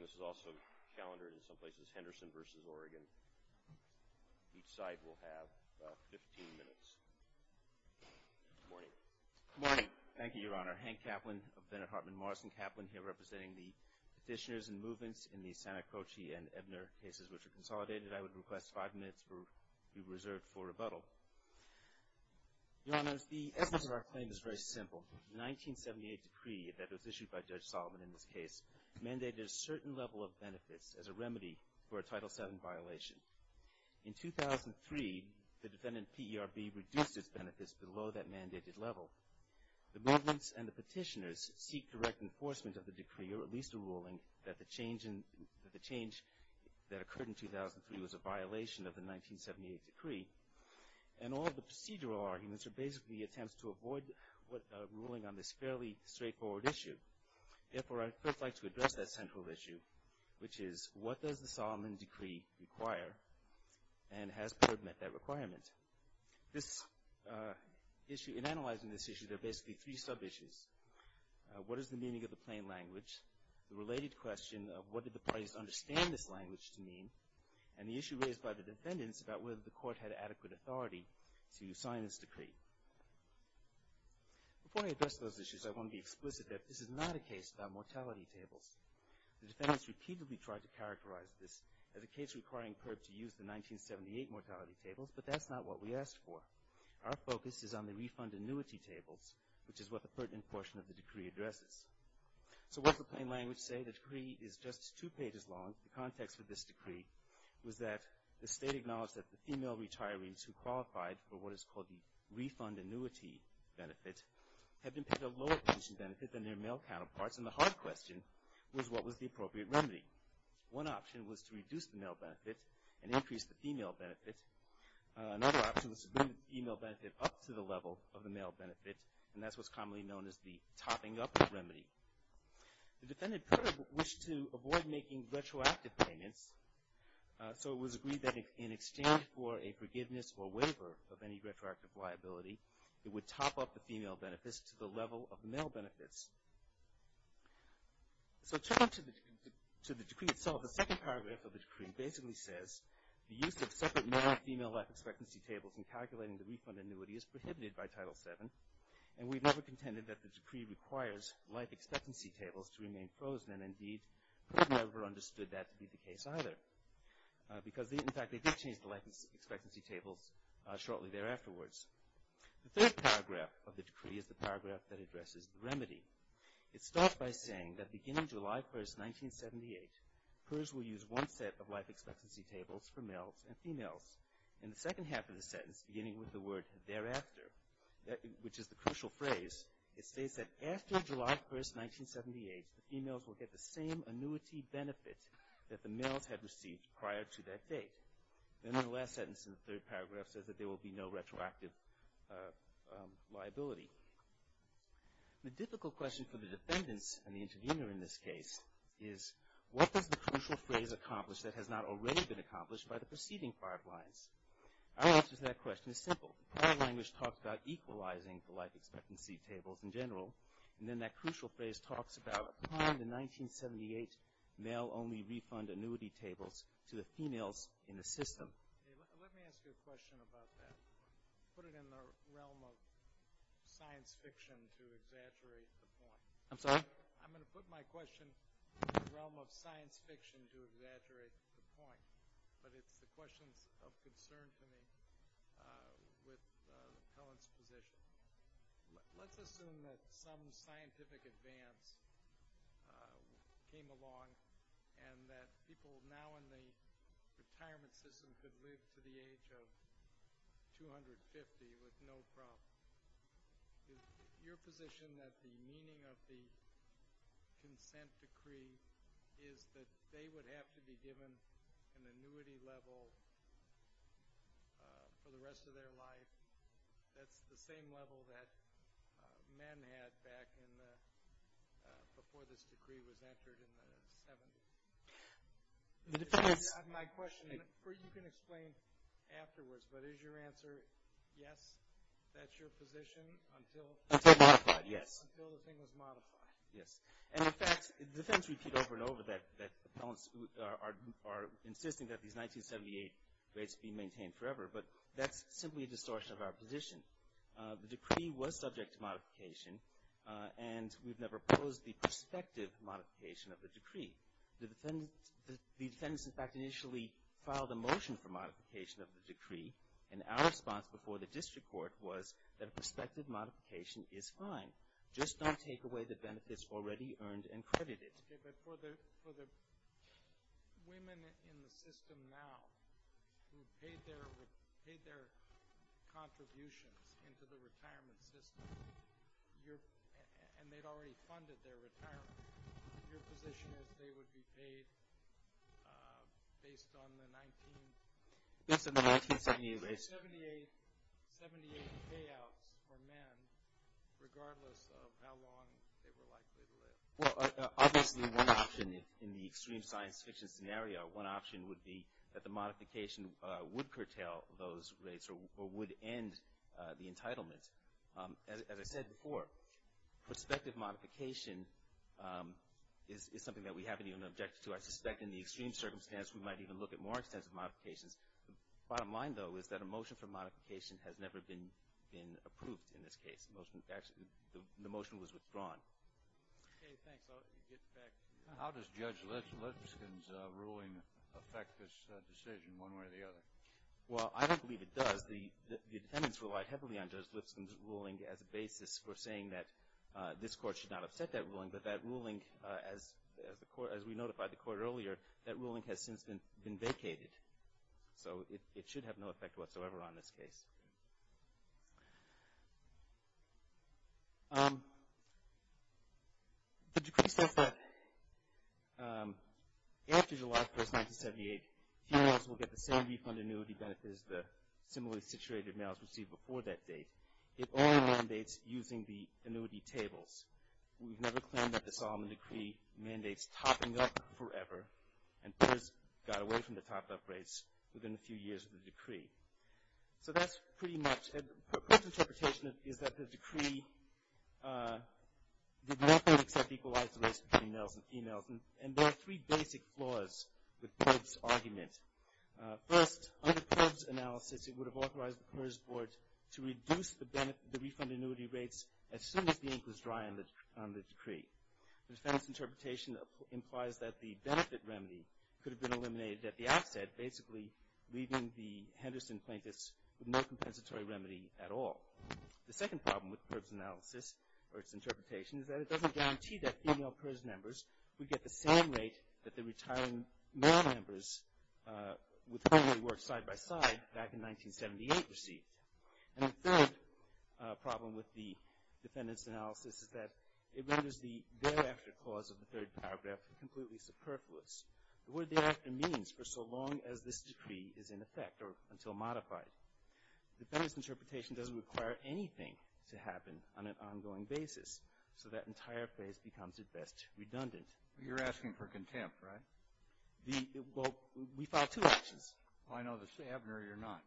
This is also calendared in some places, Henderson v. Oregon. Each side will have about 15 minutes. Good morning. Good morning. Thank you, Your Honor. Hank Kaplan of Bennett Hartman Morrison Kaplan, here representing the petitioners and movements in the Santacroce and Ebner cases which are consolidated. I would request five minutes be reserved for rebuttal. Your Honors, the essence of our claim is very simple. The 1978 decree that was issued by Judge Solomon in this case mandated a certain level of benefits as a remedy for a Title VII violation. In 2003, the defendant P.E.R.B. reduced its benefits below that mandated level. The movements and the petitioners seek direct enforcement of the decree or at least a ruling that the change that occurred in 2003 was a violation of the 1978 decree. And all of the procedural arguments are basically attempts to avoid ruling on this fairly straightforward issue. Therefore, I would first like to address that central issue, which is what does the Solomon decree require and has P.E.R.B. met that requirement? This issue, in analyzing this issue, there are basically three sub-issues. What is the meaning of the plain language? The related question of what did the parties understand this language to mean? And the issue raised by the defendants about whether the court had adequate authority to sign this decree. Before I address those issues, I want to be explicit that this is not a case about mortality tables. The defendants repeatedly tried to characterize this as a case requiring P.E.R.B. to use the 1978 mortality tables, but that's not what we asked for. Our focus is on the refund annuity tables, which is what the pertinent portion of the decree addresses. So what does the plain language say? The decree is just two pages long. The context of this decree was that the state acknowledged that the female retirees who qualified for what is called the refund annuity benefit had been paid a lower pension benefit than their male counterparts, and the hard question was what was the appropriate remedy? One option was to reduce the male benefit and increase the female benefit. Another option was to bring the female benefit up to the level of the male benefit, and that's what's commonly known as the topping-up remedy. The defendant wished to avoid making retroactive payments, so it was agreed that in exchange for a forgiveness or waiver of any retroactive liability, it would top up the female benefits to the level of the male benefits. So to the decree itself, the second paragraph of the decree basically says, the use of separate male and female life expectancy tables in calculating the refund annuity is prohibited by Title VII, and we've never contended that the decree requires life expectancy tables to remain frozen, and indeed we've never understood that to be the case either, because in fact they did change the life expectancy tables shortly thereafter. The third paragraph of the decree is the paragraph that addresses the remedy. It starts by saying that beginning July 1, 1978, PERS will use one set of life expectancy tables for males and females. In the second half of the sentence, beginning with the word thereafter, which is the crucial phrase, it states that after July 1, 1978, the females will get the same annuity benefit that the males had received prior to that date. Then the last sentence in the third paragraph says that there will be no retroactive liability. The difficult question for the defendants, and the interviewer in this case, is what does the crucial phrase accomplish that has not already been accomplished by the preceding five lines? Our answer to that question is simple. Our language talks about equalizing the life expectancy tables in general, and then that crucial phrase talks about applying the 1978 male-only refund annuity tables to the females in the system. Let me ask you a question about that. Put it in the realm of science fiction to exaggerate the point. I'm sorry? I'm going to put my question in the realm of science fiction to exaggerate the point, but it's the questions of concern to me with the appellant's position. Let's assume that some scientific advance came along and that people now in the retirement system could live to the age of 250 with no problem. Is your position that the meaning of the consent decree is that they would have to be given an annuity level for the rest of their life? That's the same level that men had back before this decree was entered in the 70s. My question is, you can explain afterwards, but is your answer yes, that's your position, until the thing was modified? Yes. And, in fact, defendants repeat over and over that appellants are insisting that these 1978 rates be maintained forever, but that's simply a distortion of our position. The decree was subject to modification, and we've never proposed the prospective modification of the decree. The defendants, in fact, initially filed a motion for modification of the decree, and our response before the district court was that a prospective modification is fine. Just don't take away the benefits already earned and credited. Okay, but for the women in the system now who paid their contributions into the retirement system, and they'd already funded their retirement, your position is they would be paid based on the 1978 rates. There were 78 payouts for men, regardless of how long they were likely to live. Well, obviously, one option in the extreme science fiction scenario, one option would be that the modification would curtail those rates or would end the entitlement. As I said before, prospective modification is something that we haven't even objected to. I suspect in the extreme circumstance, we might even look at more extensive modifications. The bottom line, though, is that a motion for modification has never been approved in this case. In fact, the motion was withdrawn. Okay, thanks. I'll get back to you. How does Judge Lipscomb's ruling affect this decision one way or the other? Well, I don't believe it does. The defendants relied heavily on Judge Lipscomb's ruling as a basis for saying that this court should not upset that ruling, but that ruling, as we notified the court earlier, that ruling has since been vacated, so it should have no effect whatsoever on this case. The decree states that after July 1, 1978, females will get the same refund annuity benefit as the similarly situated males received before that date. It only mandates using the annuity tables. We've never claimed that the Solomon Decree mandates topping up forever, and PERS got away from the topped-up rates within a few years of the decree. So that's pretty much it. PERS' interpretation is that the decree did nothing except equalize the rates between males and females, and there are three basic flaws with PERS' argument. First, under PERS' analysis, it would have authorized the PERS board to reduce the refund annuity rates as soon as the ink was dry on the decree. The defendants' interpretation implies that the benefit remedy could have been eliminated at the outset, basically leaving the Henderson plaintiffs with no compensatory remedy at all. The second problem with PERS' analysis or its interpretation is that it doesn't guarantee that female PERS members would get the same rate that the retiring male members with whom they worked side-by-side back in 1978 received. And the third problem with the defendants' analysis is that it renders the thereafter clause of the third paragraph completely superfluous. The word thereafter means for so long as this decree is in effect or until modified. The defendants' interpretation doesn't require anything to happen on an ongoing basis, so that entire phase becomes, at best, redundant. You're asking for contempt, right? Well, we filed two actions. Oh, I know. You're not.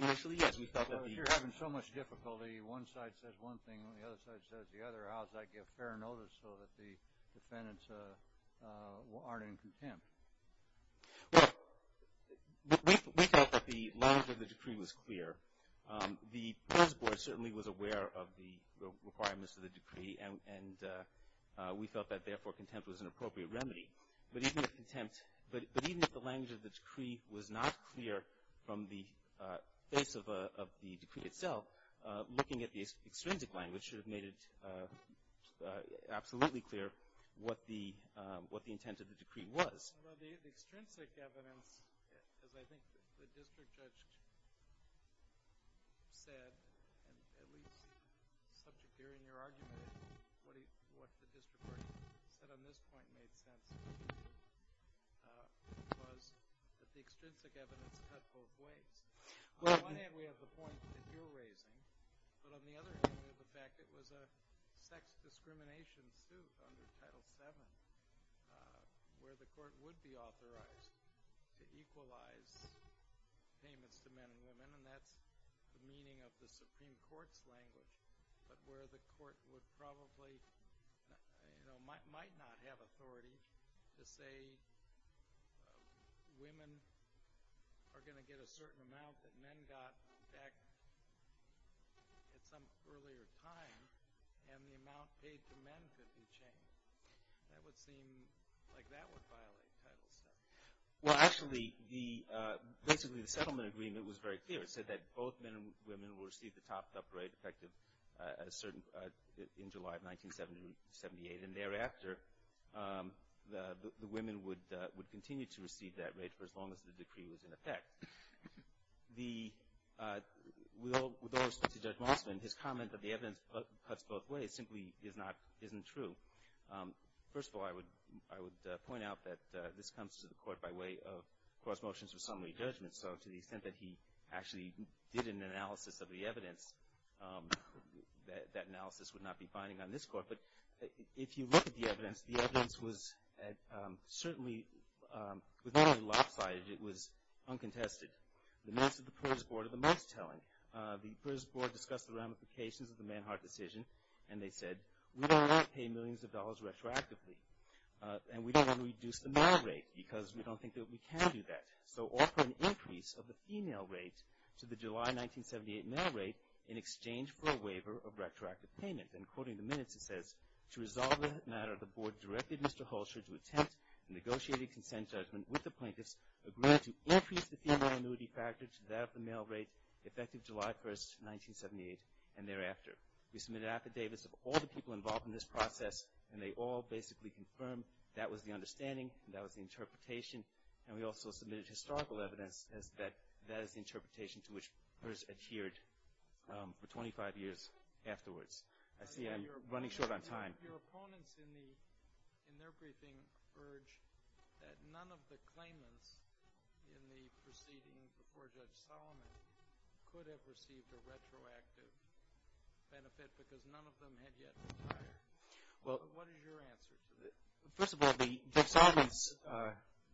Initially, yes. You're having so much difficulty. One side says one thing and the other side says the other. How does that get fair notice so that the defendants aren't in contempt? Well, we felt that the language of the decree was clear. The PERS board certainly was aware of the requirements of the decree, and we felt that, therefore, contempt was an appropriate remedy. But even if contempt, but even if the language of the decree was not clear from the face of the decree itself, looking at the extrinsic language should have made it absolutely clear what the intent of the decree was. Well, the extrinsic evidence, as I think the district judge said, and at least subject here in your argument what the district court said on this point made sense, was that the extrinsic evidence cut both ways. On the one hand, we have the point that you're raising, but on the other hand we have the fact that it was a sex discrimination suit under Title VII where the court would be authorized to equalize payments to men and women, and that's the meaning of the Supreme Court's language, but where the court would probably, you know, might not have authority to say women are going to get a certain amount that men got back at some earlier time and the amount paid to men could be changed. That would seem like that would violate Title VII. Well, actually, basically the settlement agreement was very clear. It said that both men and women would receive the topped-up rate effective in July of 1978, and thereafter the women would continue to receive that rate for as long as the decree was in effect. With all respect to Judge Mossman, his comment that the evidence cuts both ways simply isn't true. First of all, I would point out that this comes to the court by way of cross motions of summary judgment, so to the extent that he actually did an analysis of the evidence, that analysis would not be binding on this court, but if you look at the evidence, the evidence was certainly not only lopsided, it was uncontested. The minutes of the PERS Board are the most telling. The PERS Board discussed the ramifications of the Manhart decision, and they said we don't want to pay millions of dollars retroactively, and we don't want to reduce the male rate because we don't think that we can do that, so offer an increase of the female rate to the July 1978 male rate in exchange for a waiver of retroactive payment, and quoting the minutes, it says, to resolve the matter, the Board directed Mr. Hulsher to attempt a negotiated consent judgment with the plaintiffs, agreeing to increase the female annuity factor to that of the male rate effective July 1st, 1978, and thereafter. We submitted affidavits of all the people involved in this process, and they all basically confirmed that was the understanding, that was the interpretation, and we also submitted historical evidence that that is the interpretation to which PERS adhered for 25 years afterwards. I see I'm running short on time. Your opponents in their briefing urged that none of the claimants in the proceeding before Judge Solomon could have received a retroactive benefit because none of them had yet retired. What is your answer to that? First of all, Judge Solomon's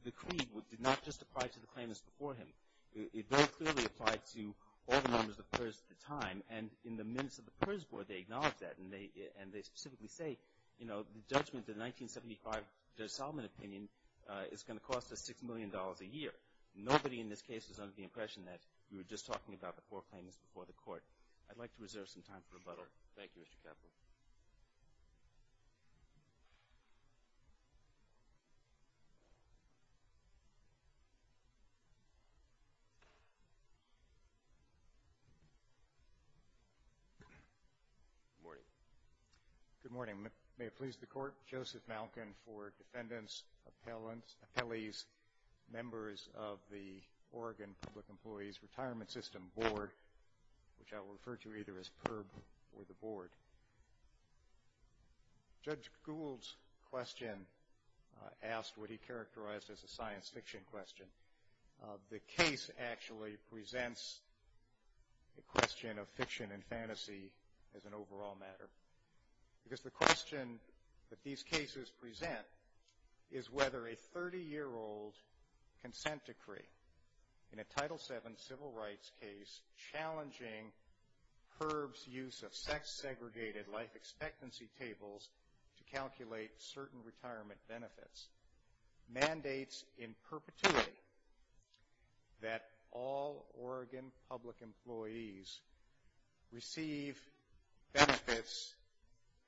decree did not just apply to the claimants before him. It very clearly applied to all the members of the PERS at the time, and in the minutes of the PERS Board, they acknowledge that, and they specifically say, you know, the judgment, the 1975 Judge Solomon opinion, is going to cost us $6 million a year. Nobody in this case is under the impression that we were just talking about the poor claimants before the court. I'd like to reserve some time for rebuttal. Thank you, Mr. Kaplan. Good morning. Good morning. May it please the Court, Joseph Malkin for defendants, appellees, members of the Oregon Public Employees Retirement System Board, which I will refer to either as PIRB or the Board. Judge Gould's question asked what he characterized as a science fiction question. The case actually presents a question of fiction and fantasy as an overall matter, because the question that these cases present is whether a 30-year-old consent decree in a Title VII civil rights case challenging PIRB's use of sex-segregated life expectancy tables to calculate certain retirement benefits mandates in perpetuity that all Oregon public employees receive benefits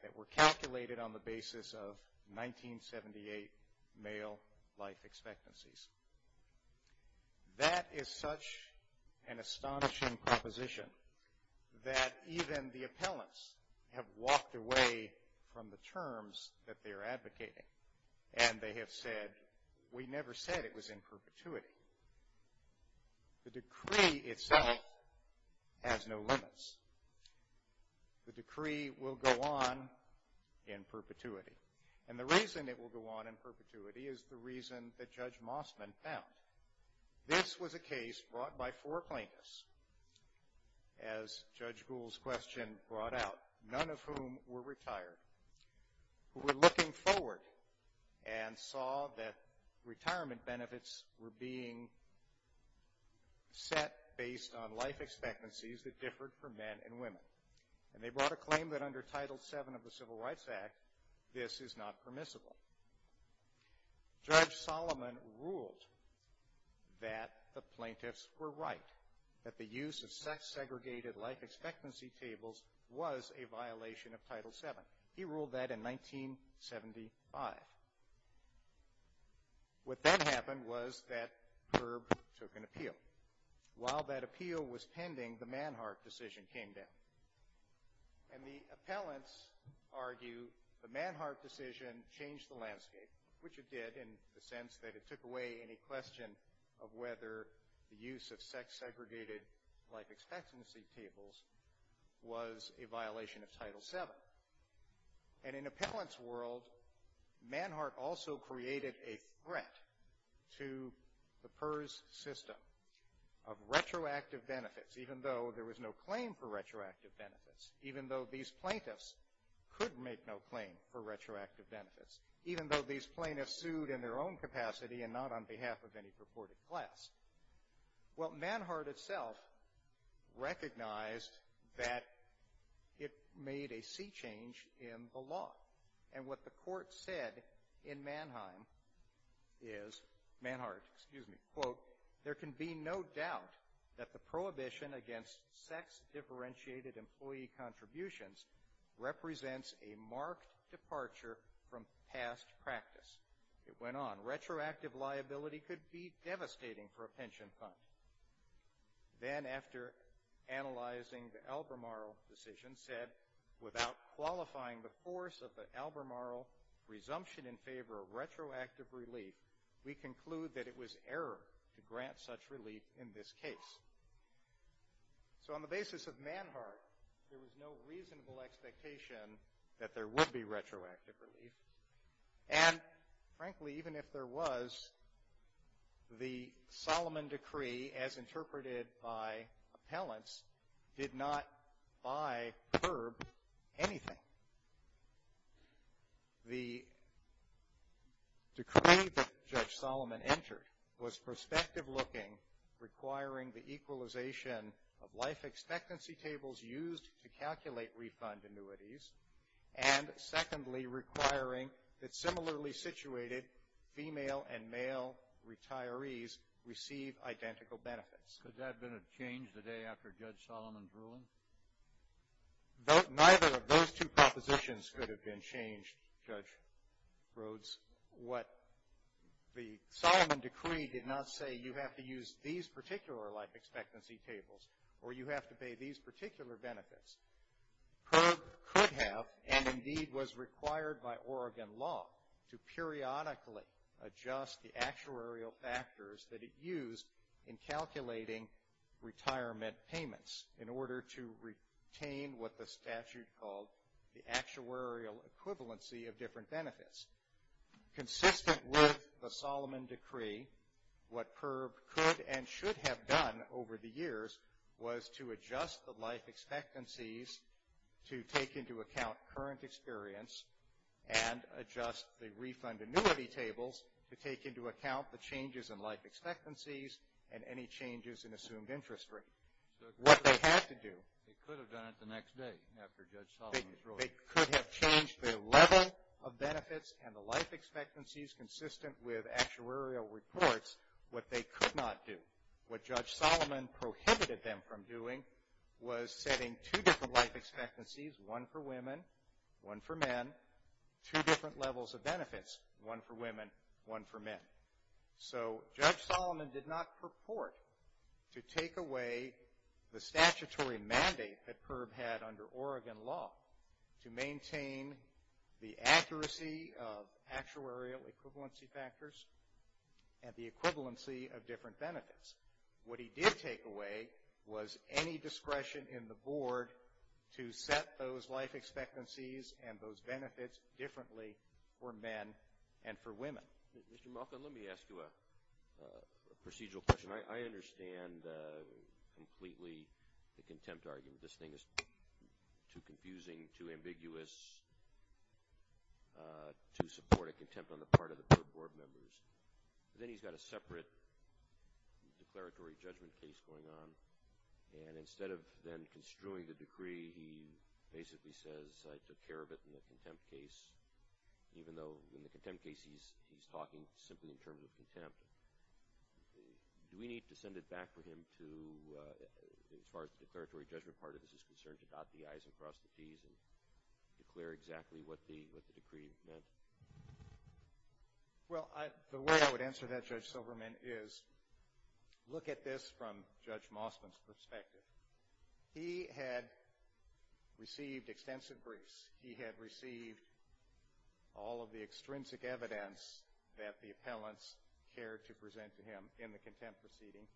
that were calculated on the basis of 1978 male life expectancies. That is such an astonishing proposition that even the appellants have walked away from the terms that they're advocating, and they have said, we never said it was in perpetuity. The decree itself has no limits. The decree will go on in perpetuity. And the reason it will go on in perpetuity is the reason that Judge Mossman found. This was a case brought by four plaintiffs, as Judge Gould's question brought out, none of whom were retired, who were looking forward and saw that retirement benefits were being set based on life expectancies that differed for men and women. And they brought a claim that under Title VII of the Civil Rights Act, this is not permissible. Judge Solomon ruled that the plaintiffs were right, that the use of sex-segregated life expectancy tables was a violation of Title VII. He ruled that in 1975. What then happened was that PIRB took an appeal. While that appeal was pending, the Manhart decision came down. And the appellants argue the Manhart decision changed the landscape, which it did in the sense that it took away any question of whether the use of sex-segregated life expectancy tables was a violation of Title VII. And in appellant's world, Manhart also created a threat to the PIRB's system of retroactive benefits, even though there was no claim for retroactive benefits, even though these plaintiffs could make no claim for retroactive benefits, even though these plaintiffs sued in their own capacity and not on behalf of any purported class. Well, Manhart itself recognized that it made a sea change in the law. And what the court said in Manheim is, Manhart, excuse me, quote, there can be no doubt that the prohibition against sex-differentiated employee contributions represents a marked departure from past practice. It went on. Retroactive liability could be devastating for a pension fund. Then, after analyzing the Albemarle decision, said, without qualifying the force of the Albemarle resumption in favor of retroactive relief, we conclude that it was error to grant such relief in this case. So on the basis of Manhart, there was no reasonable expectation that there would be retroactive relief. And, frankly, even if there was, the Solomon Decree, as interpreted by appellants, did not by PIRB anything. The decree that Judge Solomon entered was perspective-looking, requiring the equalization of life expectancy tables used to calculate refund annuities and, secondly, requiring that similarly situated female and male retirees receive identical benefits. Could that have been a change the day after Judge Solomon's ruling? Neither of those two propositions could have been changed, Judge Rhodes. What the Solomon Decree did not say, you have to use these particular life expectancy tables or you have to pay these particular benefits. PIRB could have, and indeed was required by Oregon law, to periodically adjust the actuarial factors that it used in calculating retirement payments in order to retain what the statute called the actuarial equivalency of different benefits. Consistent with the Solomon Decree, what PIRB could and should have done over the years was to adjust the life expectancies to take into account current experience and adjust the refund annuity tables to take into account the changes in life expectancies and any changes in assumed interest rate. What they had to do. They could have done it the next day after Judge Solomon's ruling. They could have changed the level of benefits and the life expectancies consistent with actuarial reports. What they could not do. What Judge Solomon prohibited them from doing was setting two different life expectancies, one for women, one for men, two different levels of benefits, one for women, one for men. So, Judge Solomon did not purport to take away the statutory mandate that PIRB had under Oregon law to maintain the accuracy of actuarial equivalency factors and the equivalency of different benefits. What he did take away was any discretion in the board to set those life expectancies and those benefits differently for men and for women. Mr. Malkin, let me ask you a procedural question. I understand completely the contempt argument. This thing is too confusing, too ambiguous to support a contempt on the part of the PIRB board members. Then he's got a separate declaratory judgment case going on, and instead of then construing the decree, he basically says, I took care of it in the contempt case, even though in the contempt case he's talking simply in terms of contempt. Do we need to send it back for him to, as far as the declaratory judgment part of this is concerned, to dot the I's and cross the T's and declare exactly what the decree meant? Well, the way I would answer that, Judge Silverman, is look at this from Judge Mosman's perspective. He had received extensive briefs. He had received all of the extrinsic evidence that the appellants cared to present to him in the contempt proceeding.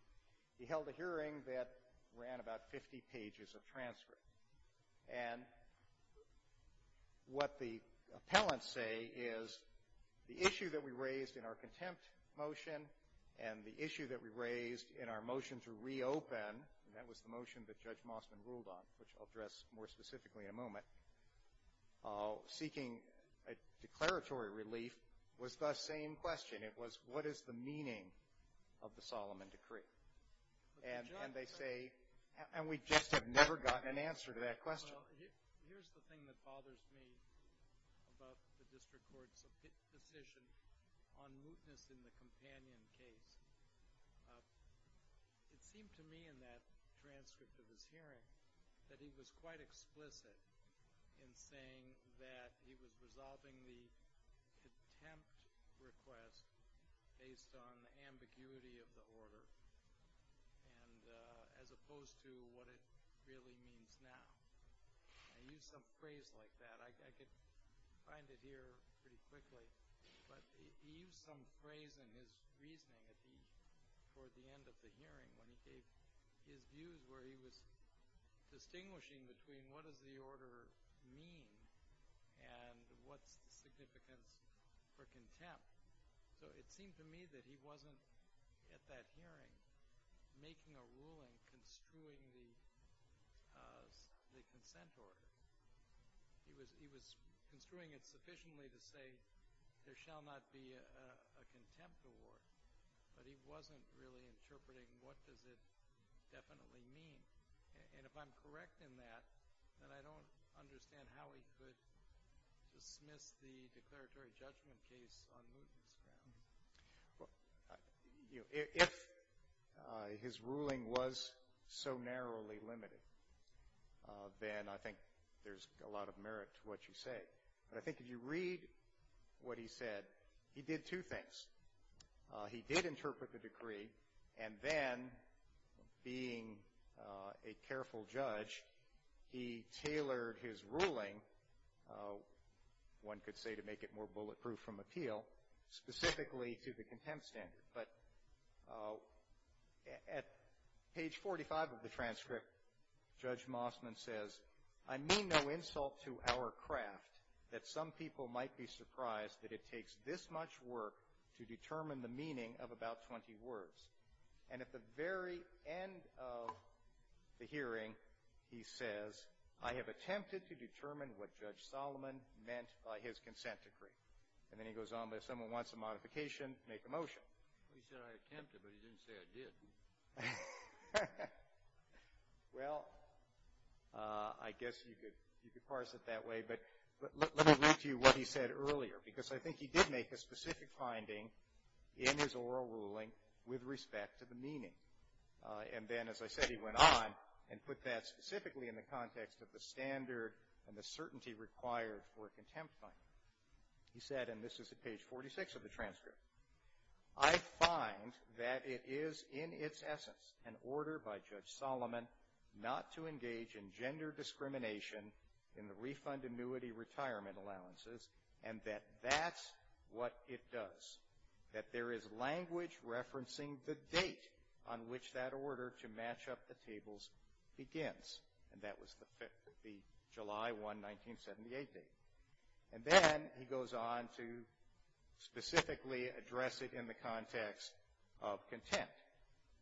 He held a hearing that ran about 50 pages of transcript. And what the appellants say is the issue that we raised in our contempt motion and the issue that we raised in our motion to reopen, and that was the motion that Judge Mosman ruled on, which I'll address more specifically in a moment. Seeking a declaratory relief was the same question. It was, what is the meaning of the Solomon Decree? And they say, and we just have never gotten an answer to that question. Well, here's the thing that bothers me about the district court's decision on mootness in the companion case. It seemed to me in that transcript of his hearing that he was quite explicit in saying that he was resolving the contempt request based on the ambiguity of the order as opposed to what it really means now. I use some phrase like that. I could find it here pretty quickly. But he used some phrase in his reasoning toward the end of the hearing when he gave his views where he was distinguishing between what does the order mean and what's the significance for contempt. So it seemed to me that he wasn't at that hearing making a ruling construing the consent order. He was construing it sufficiently to say there shall not be a contempt award, but he wasn't really interpreting what does it definitely mean. And if I'm correct in that, then I don't understand how he could dismiss the declaratory judgment case on mootness grounds. If his ruling was so narrowly limited, then I think there's a lot of merit to what you say. But I think if you read what he said, he did two things. He did interpret the decree, and then, being a careful judge, he tailored his ruling, one could say to make it more bulletproof from appeal, specifically to the contempt standard. But at page 45 of the transcript, Judge Mossman says, I mean no insult to our craft that some people might be surprised that it takes this much work to determine the meaning of about 20 words. And at the very end of the hearing, he says, I have attempted to determine what Judge Solomon meant by his consent decree. And then he goes on, but if someone wants a modification, make a motion. He said I attempted, but he didn't say I did. Well, I guess you could parse it that way. But let me read to you what he said earlier, because I think he did make a specific finding in his oral ruling with respect to the meaning. And then, as I said, he went on and put that specifically in the context of the standard and the certainty required for a contempt finding. He said, and this is at page 46 of the transcript, I find that it is in its essence an order by Judge Solomon not to engage in gender discrimination in the refund annuity retirement allowances, and that that's what it does. That there is language referencing the date on which that order to match up the tables begins. And that was the July 1, 1978 date. And then he goes on to specifically address it in the context of contempt,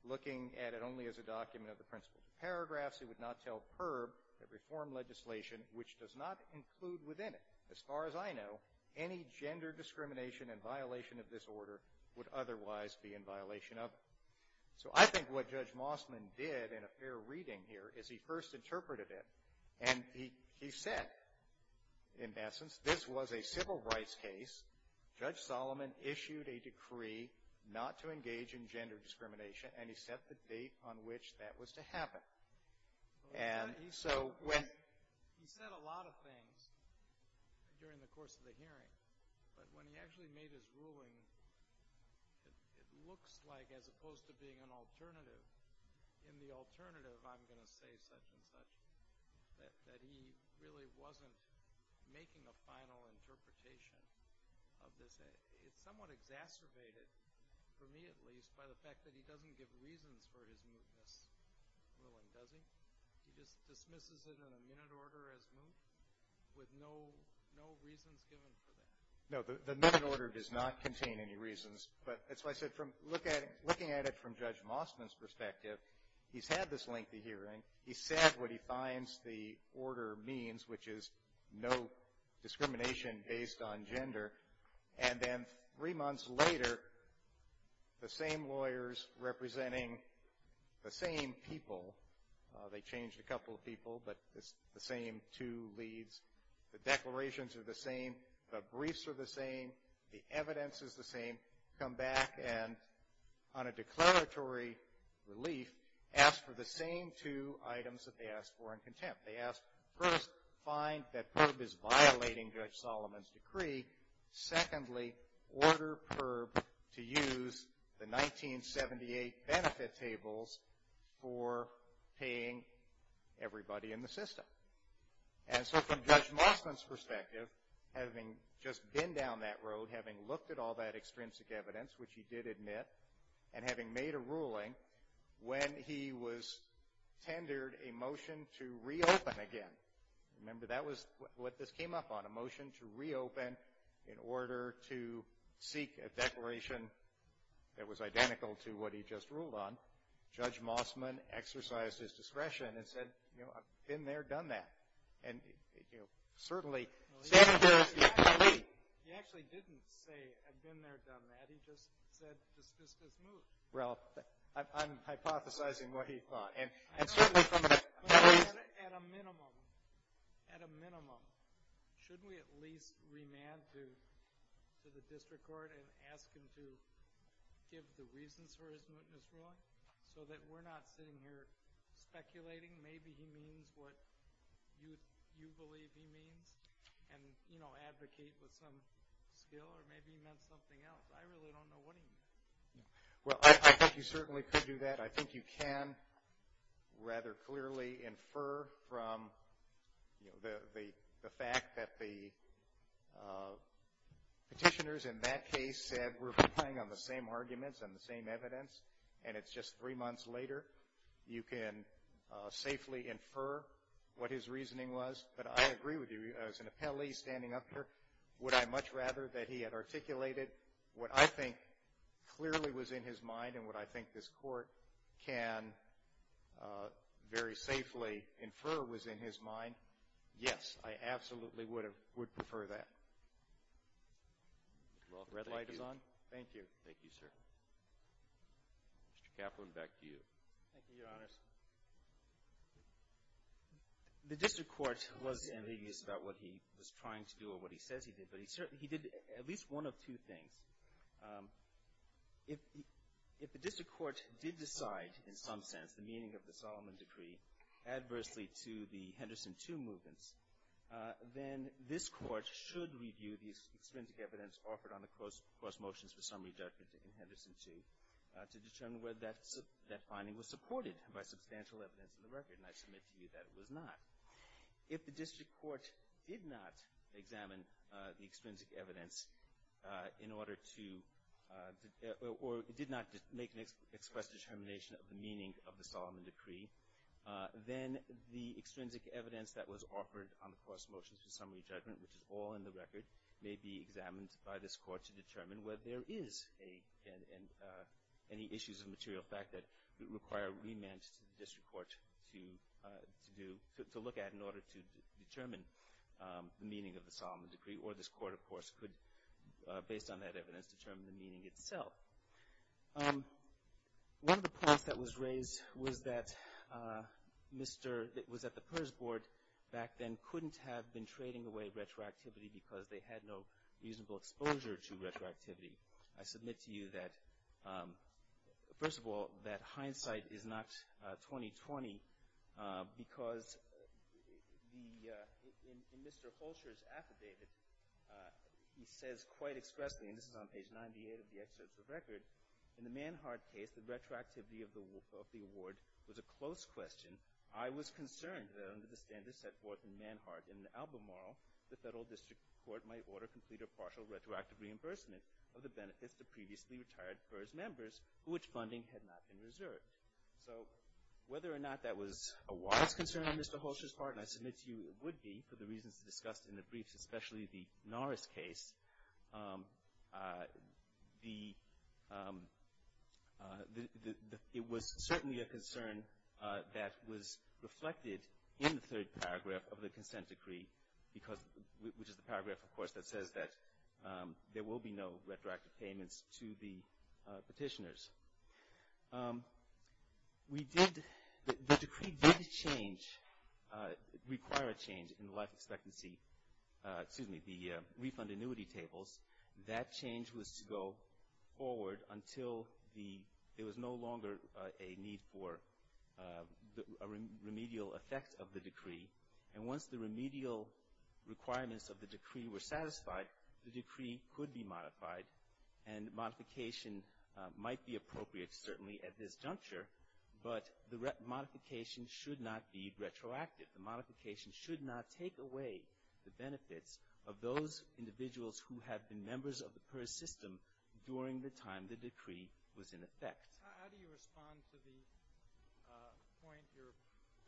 looking at it only as a document of the principle. Paragraphs he would not tell PERB that reform legislation, which does not include within it. As far as I know, any gender discrimination in violation of this order would otherwise be in violation of it. So I think what Judge Mossman did in a fair reading here is he first interpreted it, and he said, in essence, this was a civil rights case. Judge Solomon issued a decree not to engage in gender discrimination, and he set the date on which that was to happen. And so when he said a lot of things during the course of the hearing, but when he actually made his ruling, it looks like, as opposed to being an alternative, in the alternative I'm going to say such and such, that he really wasn't making a final interpretation of this. It's somewhat exacerbated, for me at least, by the fact that he doesn't give reasons for his mootness ruling, does he? He just dismisses it in a minute order as moot, with no reasons given for that. No, the minute order does not contain any reasons. But that's why I said, looking at it from Judge Mossman's perspective, he's had this lengthy hearing. He said what he finds the order means, which is no discrimination based on gender. And then three months later, the same lawyers representing the same people. They changed a couple of people, but it's the same two leads. The declarations are the same. The briefs are the same. The evidence is the same. Come back and, on a declaratory relief, ask for the same two items that they asked for in contempt. They asked, first, find that PIRB is violating Judge Solomon's decree. Secondly, order PIRB to use the 1978 benefit tables for paying everybody in the system. And so from Judge Mossman's perspective, having just been down that road, having looked at all that extrinsic evidence, which he did admit, and having made a ruling, when he was tendered a motion to reopen again. Remember, that was what this came up on, a motion to reopen in order to seek a declaration that was identical to what he just ruled on. Judge Mossman exercised his discretion and said, you know, I've been there, done that. And, you know, certainly, standing there as the accompli. He actually didn't say, I've been there, done that. He just said, this just is moot. Well, I'm hypothesizing what he thought. And certainly from the memory. At a minimum, at a minimum, shouldn't we at least remand to the district court and ask him to give the reasons for his mootness ruling so that we're not sitting here speculating, maybe he means what you believe he means, and, you know, advocate with some skill, or maybe he meant something else. I really don't know what he meant. Well, I think you certainly could do that. I think you can rather clearly infer from, you know, the fact that the petitioners in that case said, we're relying on the same arguments and the same evidence, and it's just three months later. You can safely infer what his reasoning was. But I agree with you. As an appellee standing up here, would I much rather that he had articulated what I think clearly was in his mind and what I think this Court can very safely infer was in his mind? Yes, I absolutely would prefer that. The red light is on. Thank you. Thank you, sir. Mr. Kaplan, back to you. Thank you, Your Honors. The district court was envious about what he was trying to do or what he says he did, but he did at least one of two things. If the district court did decide in some sense the meaning of the Solomon Decree adversely to the Henderson 2 movements, then this Court should review the extrinsic evidence offered on the cross motions for summary judgment in Henderson 2 to determine whether that finding was supported by substantial evidence in the record. And I submit to you that it was not. If the district court did not examine the extrinsic evidence in order to, or did not make an express determination of the meaning of the Solomon Decree, then the extrinsic evidence that was offered on the cross motions for summary judgment, which is all in the record, may be examined by this Court to determine whether there is any issues of material fact that require remand to the district court to look at in order to determine the meaning of the Solomon Decree. Or this Court, of course, could, based on that evidence, determine the meaning itself. One of the points that was raised was that the PERS Board back then couldn't have been trading away retroactivity because they had no reasonable exposure to retroactivity. I submit to you that, first of all, that hindsight is not 20-20, because in Mr. Holscher's affidavit, he says quite expressly, and this is on page 98 of the excerpts of the record, in the Manhart case, the retroactivity of the award was a close question. I was concerned that under the standards set forth in Manhart in the Albemarle, the federal district court might order complete or partial retroactive reimbursement of the benefits to previously retired PERS members for which funding had not been reserved. So whether or not that was a wise concern on Mr. Holscher's part, and I submit to you it would be for the reasons discussed in the briefs, especially the Norris case, it was certainly a concern that was reflected in the third paragraph of the Consent Decree, which is the paragraph, of course, that says that there will be no retroactive payments to the petitioners. We did, the decree did change, require a change in the life expectancy, excuse me, the refund annuity tables. That change was to go forward until there was no longer a need for a remedial effect of the decree, and once the remedial requirements of the decree were satisfied, the decree could be modified, and modification might be appropriate certainly at this juncture, but the modification should not be retroactive. The modification should not take away the benefits of those individuals who have been members of the PERS system during the time the decree was in effect. How do you respond to the point your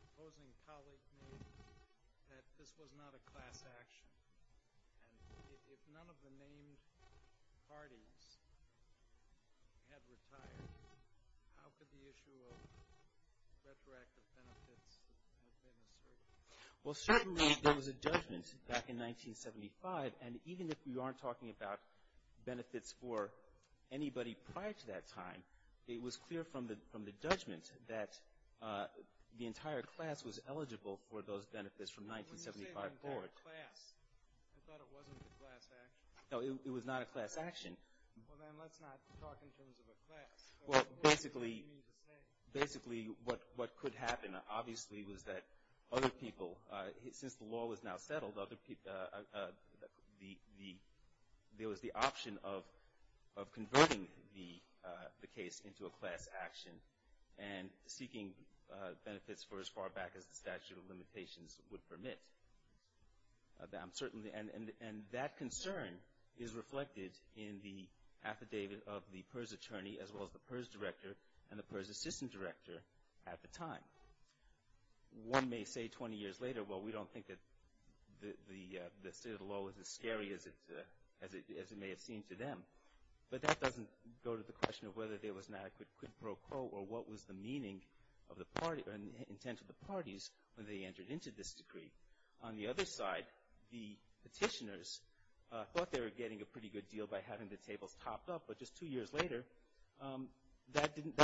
opposing colleague made that this was not a class action? And if none of the named parties had retired, how could the issue of retroactive benefits have been asserted? Well, certainly there was a judgment back in 1975, and even if we aren't talking about benefits for anybody prior to that time, it was clear from the judgment that the entire class was eligible for those benefits from 1975 forward. I thought it wasn't a class action. No, it was not a class action. Well, then let's not talk in terms of a class. Well, basically what could happen obviously was that other people, since the law was now settled, there was the option of converting the case into a class action and seeking benefits for as far back as the statute of limitations would permit. And that concern is reflected in the affidavit of the PERS attorney as well as the PERS director and the PERS assistant director at the time. One may say 20 years later, well, we don't think that the state of the law is as scary as it may have seemed to them, but that doesn't go to the question of whether there was an adequate quid pro quo or what was the meaning or intent of the parties when they entered into this decree. On the other side, the petitioners thought they were getting a pretty good deal by having the tables topped up, but just two years later, that didn't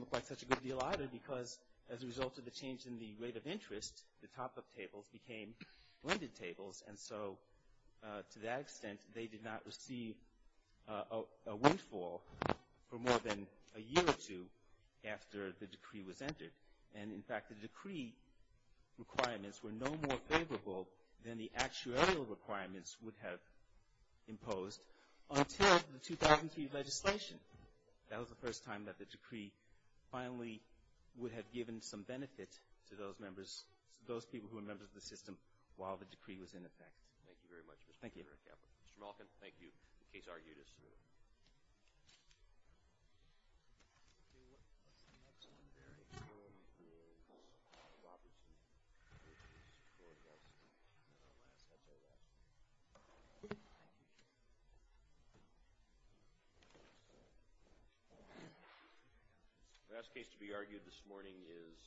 look like such a good deal either because as a result of the change in the rate of interest, the top-up tables became blended tables. And so, to that extent, they did not receive a windfall for more than a year or two after the decree was entered. And, in fact, the decree requirements were no more favorable than the actuarial requirements would have imposed until the 2003 legislation. That was the first time that the decree finally would have given some benefit to those members, those people who were members of the system while the decree was in effect. Thank you very much, Mr. Caput. Mr. Malkin, thank you. The case argued is submitted. The last case to be argued this morning is